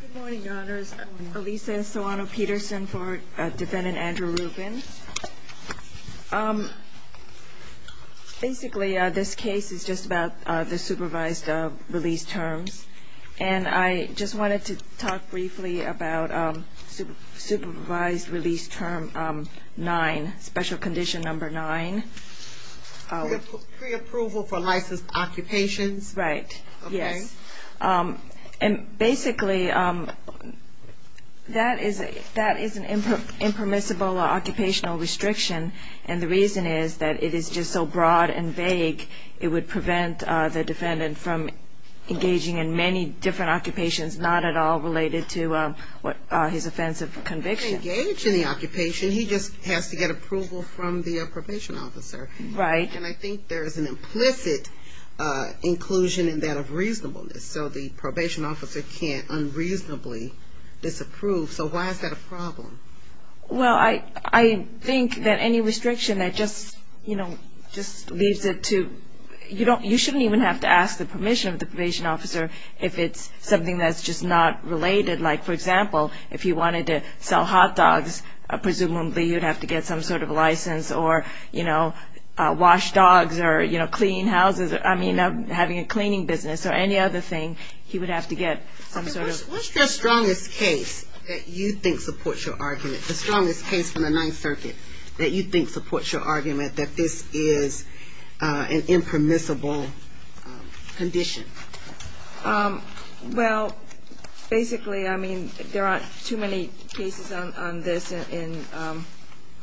Good morning, Your Honors. Elisa Soano-Peterson for Defendant Andrew Rubin. Basically, this case is just about the supervised release terms. And I just wanted to talk briefly about Supervised Release Term 9, Special Condition Number 9. Pre-approval for licensed occupations. Right, yes. And basically, that is an impermissible occupational restriction. And the reason is that it is just so broad and vague, it would prevent the defendant from engaging in many different occupations, not at all related to his offense of conviction. He can engage in the occupation, he just has to get approval from the probation officer. Right. And I think there is an implicit inclusion in that of reasonableness. So the probation officer can't unreasonably disapprove. So why is that a problem? Well, I think that any restriction that just, you know, just leads it to – you shouldn't even have to ask the permission of the probation officer if it's something that's just not related. Like, for example, if you wanted to sell hot dogs, presumably you'd have to get some sort of license or, you know, wash dogs or, you know, clean houses. I mean, having a cleaning business or any other thing, he would have to get some sort of – What's your strongest case that you think supports your argument? The strongest case from the Ninth Circuit that you think supports your argument that this is an impermissible condition? Well, basically, I mean, there aren't too many cases on this in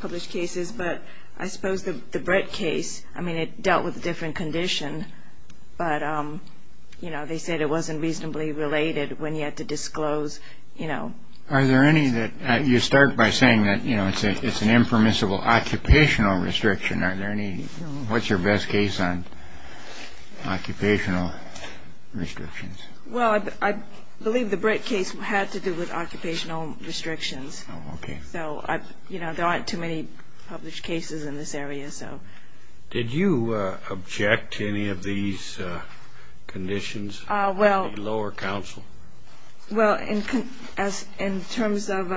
published cases, but I suppose the Brett case, I mean, it dealt with a different condition, but, you know, they said it wasn't reasonably related when you had to disclose, you know. Are there any that – you start by saying that, you know, it's an impermissible occupational restriction. Are there any – what's your best case on occupational restrictions? Well, I believe the Brett case had to do with occupational restrictions. Oh, okay. So, you know, there aren't too many published cases in this area, so. Did you object to any of these conditions in the lower counsel? Well, in terms of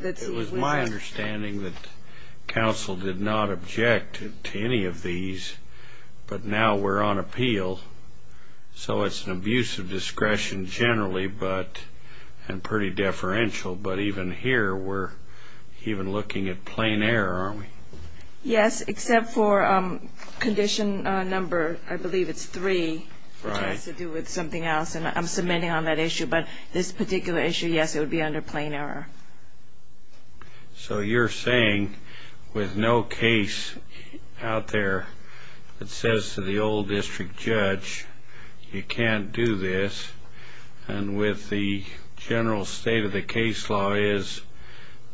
– It was my understanding that counsel did not object to any of these, but now we're on appeal, so it's an abuse of discretion generally, but – and pretty deferential, but even here we're even looking at plain error, aren't we? Yes, except for condition number, I believe it's three, which has to do with something else, and I'm submitting on that issue, but this particular issue, yes, it would be under plain error. So you're saying with no case out there that says to the old district judge, you can't do this, and with the general state of the case law is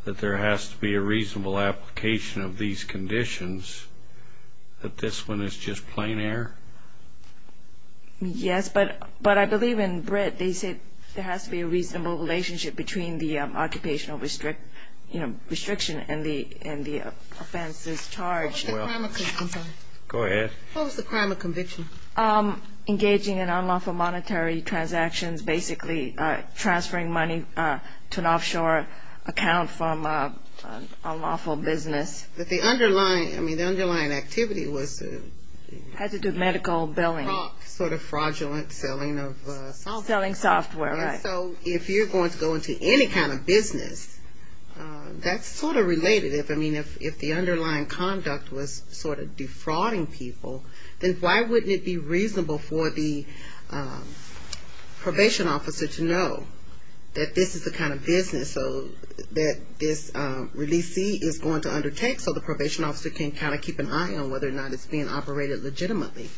that there has to be a reasonable application of these conditions, that this one is just plain error? Yes, but I believe in Britt they said there has to be a reasonable relationship between the occupational restriction and the offenses charged. What was the crime of conviction? Go ahead. What was the crime of conviction? Engaging in unlawful monetary transactions, basically transferring money to an offshore account from an unlawful business. But the underlying – I mean, the underlying activity was to – Has to do with medical billing. Sort of fraudulent selling of software. Selling software, right. So if you're going to go into any kind of business, that's sort of related. I mean, if the underlying conduct was sort of defrauding people, then why wouldn't it be reasonable for the probation officer to know that this is the kind of business that this releasee is going to undertake so the probation officer can kind of keep an eye on whether or not it's being operated legitimately?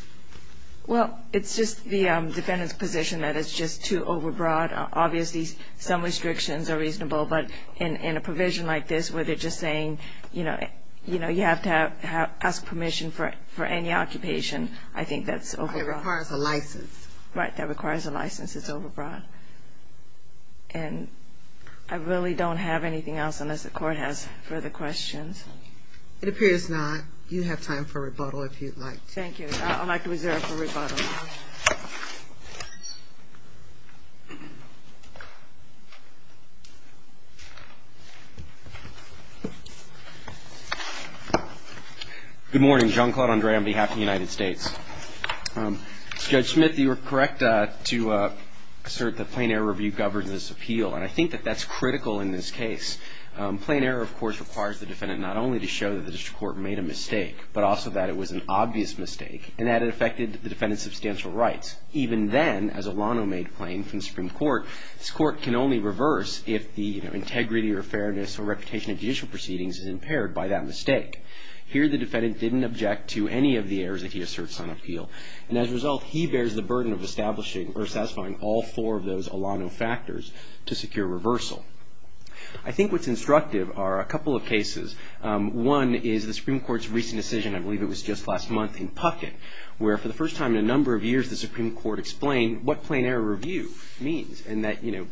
Well, it's just the defendant's position that it's just too overbroad. Obviously, some restrictions are reasonable, but in a provision like this where they're just saying, you know, you have to ask permission for any occupation, I think that's overbroad. It requires a license. Right, that requires a license. It's overbroad. And I really don't have anything else unless the Court has further questions. It appears not. You have time for rebuttal if you'd like. Thank you. I'd like to reserve for rebuttal. Good morning. John Claude Andre on behalf of the United States. Judge Smith, you were correct to assert that plain error review governs this appeal, and I think that that's critical in this case. Plain error, of course, requires the defendant not only to show that the district court made a mistake, but also that it was an obvious mistake and that it affected the defendant's substantial rights. Even then, as Alano made plain from the Supreme Court, this Court can only reverse if the integrity or fairness or reputation of judicial proceedings is impaired by that mistake. Here the defendant didn't object to any of the errors that he asserts on appeal, and as a result he bears the burden of establishing or satisfying all four of those Alano factors to secure reversal. I think what's instructive are a couple of cases. One is the Supreme Court's recent decision, I believe it was just last month, in Puckett, where for the first time in a number of years the Supreme Court explained what plain error review means and that, you know,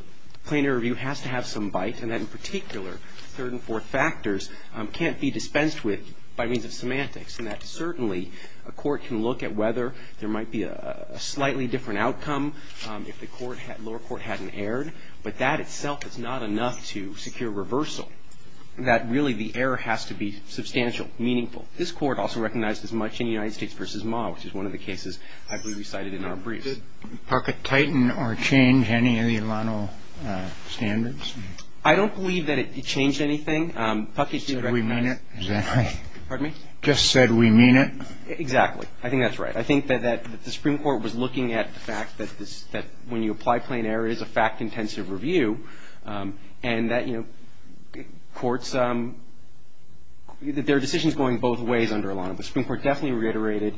plain error review has to have some bite and that, in particular, third and fourth factors can't be dispensed with by means of semantics and that certainly a court can look at whether there might be a slightly different outcome if the lower court hadn't erred, but that itself is not enough to secure reversal, that really the error has to be substantial, meaningful. This Court also recognized as much in United States v. Ma, which is one of the cases I believe we cited in our briefs. Did Puckett tighten or change any of the Alano standards? I don't believe that it changed anything. Puckett did recognize it. Just said we mean it. Is that right? Pardon me? Just said we mean it. Exactly. I think that's right. I think that the Supreme Court was looking at the fact that when you apply plain error, it is a fact-intensive review, and that, you know, courts, there are decisions going both ways under Alano, but the Supreme Court definitely reiterated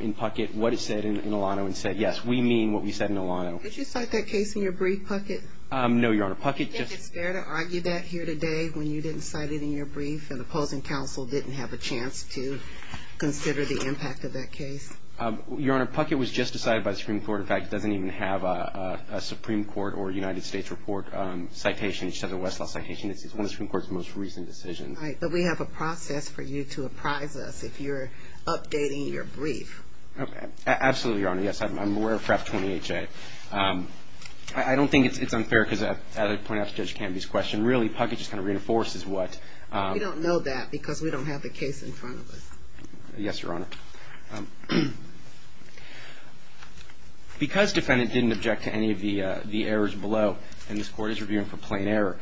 in Puckett what it said in Alano and said, yes, we mean what we said in Alano. Did you cite that case in your brief, Puckett? No, Your Honor. Puckett just ---- Did you get scared to argue that here today when you didn't cite it in your brief and opposing counsel didn't have a chance to consider the impact of that case? Your Honor, Puckett was just decided by the Supreme Court. In fact, it doesn't even have a Supreme Court or United States report citation. It just has a Westlaw citation. It's one of the Supreme Court's most recent decisions. Right. But we have a process for you to apprise us if you're updating your brief. Absolutely, Your Honor. Yes, I'm aware of PREP 28J. I don't think it's unfair because, as I pointed out to Judge Canby's question, really Puckett just kind of reinforces what ---- We don't know that because we don't have the case in front of us. Yes, Your Honor. Because defendant didn't object to any of the errors below, and this Court is reviewing for plain error,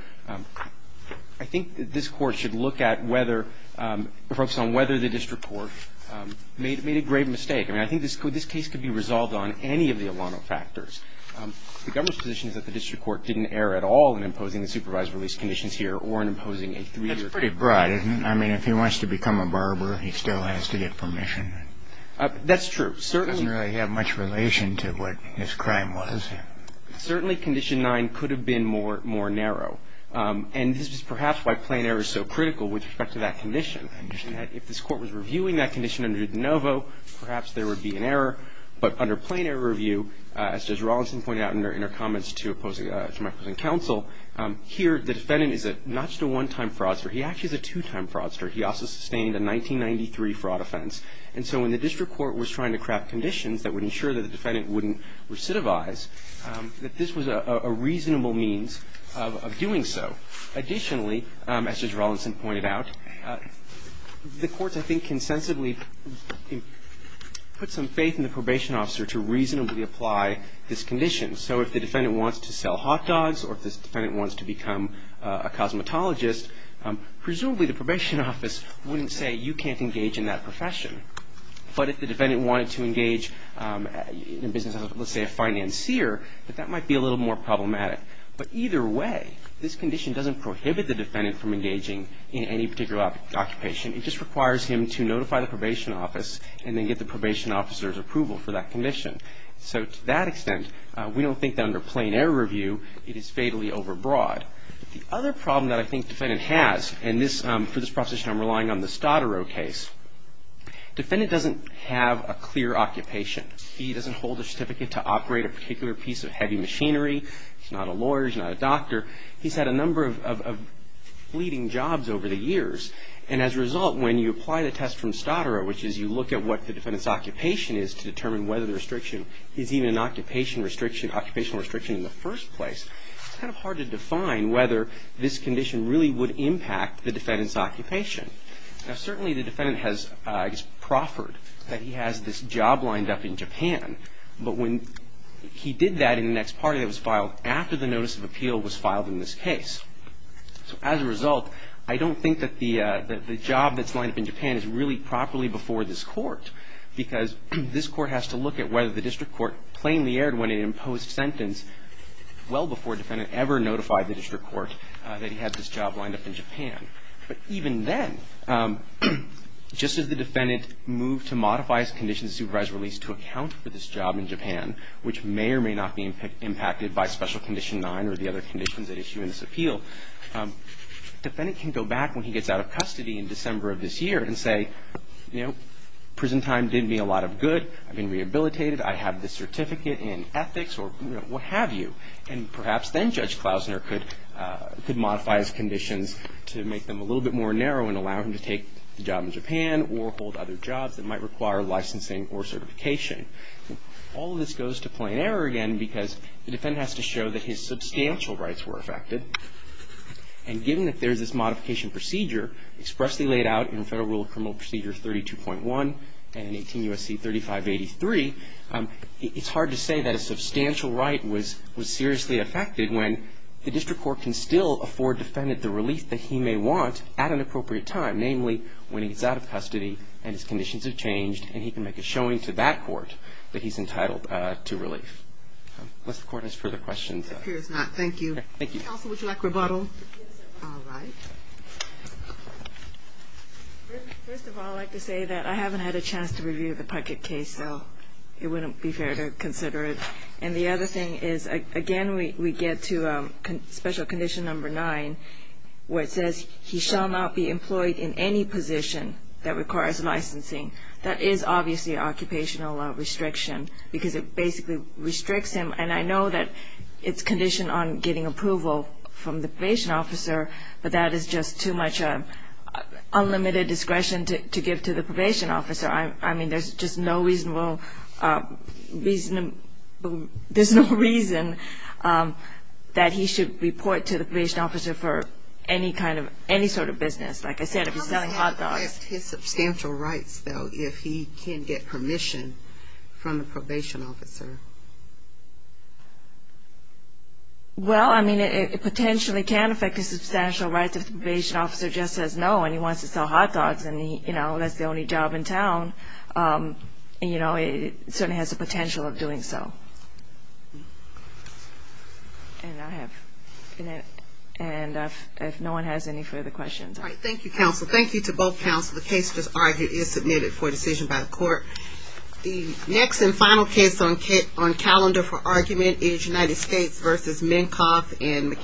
I think this Court should look at whether ---- focus on whether the district court made a grave mistake. I mean, I think this case could be resolved on any of the Alano factors. The government's position is that the district court didn't err at all in imposing the supervised release conditions here or in imposing a three-year ---- That's pretty broad, isn't it? I mean, if he wants to become a barber, he still has to get permission. That's true. Certainly ---- It doesn't really have much relation to what his crime was. Certainly Condition 9 could have been more narrow. And this is perhaps why plain error is so critical with respect to that condition, in that if this Court was reviewing that condition under de novo, perhaps there would be an error. But under plain error review, as Judge Rawlinson pointed out in her comments to my opposing counsel, here the defendant is not just a one-time fraudster. He actually is a two-time fraudster. He also sustained a 1993 fraud offense. And so when the district court was trying to craft conditions that would ensure that the defendant wouldn't recidivize, that this was a reasonable means of doing so. Additionally, as Judge Rawlinson pointed out, the courts, I think, consensibly put some faith in the probation officer to reasonably apply this condition. So if the defendant wants to sell hot dogs or if the defendant wants to become a cosmetologist, presumably the probation office wouldn't say you can't engage in that profession. But if the defendant wanted to engage in business as, let's say, a financier, that that might be a little more problematic. But either way, this condition doesn't prohibit the defendant from engaging in any particular occupation. It just requires him to notify the probation office and then get the probation officer's approval for that condition. So to that extent, we don't think that under plain error review it is fatally overbroad. The other problem that I think the defendant has, and for this proposition I'm relying on the Stottero case, the defendant doesn't have a clear occupation. He doesn't hold a certificate to operate a particular piece of heavy machinery. He's not a lawyer. He's not a doctor. He's had a number of fleeting jobs over the years. And as a result, when you apply the test from Stottero, which is you look at what the defendant's occupation is to determine whether the restriction is even an occupational restriction in the first place, it's kind of hard to define whether this condition really would impact the defendant's occupation. Now, certainly the defendant has, I guess, proffered that he has this job lined up in Japan. But when he did that in the next party that was filed after the notice of appeal was filed in this case. So as a result, I don't think that the job that's lined up in Japan is really properly before this court because this court has to look at whether the district court plainly erred when it imposed sentence well before a defendant ever notified the district court that he had this job lined up in Japan. But even then, just as the defendant moved to modify his conditions of supervised release to account for this job in Japan, which may or may not be impacted by Special Condition 9 or the other conditions at issue in this appeal, the defendant can go back when he gets out of custody in December of this year and say, you know, prison time did me a lot of good. I've been rehabilitated. I have this certificate in ethics or what have you. And perhaps then Judge Klausner could modify his conditions to make them a little bit more narrow and allow him to take the job in Japan or hold other jobs that might require licensing or certification. All of this goes to plain error again because the defendant has to show that his substantial rights were affected. And given that there's this modification procedure expressly laid out in Federal Rule of Criminal Procedure 32.1 and 18 U.S.C. 3583, it's hard to say that a substantial right was seriously affected when the district court can still afford defendant the relief that he may want at an appropriate time, namely when he's out of custody and his conditions have changed and he can make a showing to that court that he's entitled to relief. Unless the court has further questions. It appears not. Thank you. Thank you. Counsel, would you like rebuttal? Yes, sir. All right. First of all, I'd like to say that I haven't had a chance to review the Puckett case, so it wouldn't be fair to consider it. And the other thing is, again, we get to Special Condition 9, where it says he shall not be employed in any position that requires licensing. That is obviously an occupational restriction because it basically restricts him. And I know that it's conditioned on getting approval from the probation officer, but that is just too much unlimited discretion to give to the probation officer. I mean, there's just no reasonable reason that he should report to the probation officer for any sort of business. Like I said, if he's selling hot dogs. How would that affect his substantial rights, though, if he can get permission from the probation officer? Well, I mean, it potentially can affect his substantial rights if the probation officer just says no and he wants to sell hot dogs and that's the only job in town. It certainly has the potential of doing so. And if no one has any further questions. All right. Thank you, counsel. Thank you to both counsel. The case just argued is submitted for decision by the court. The next and final case on calendar for argument is United States v. Minkoff and McCabe.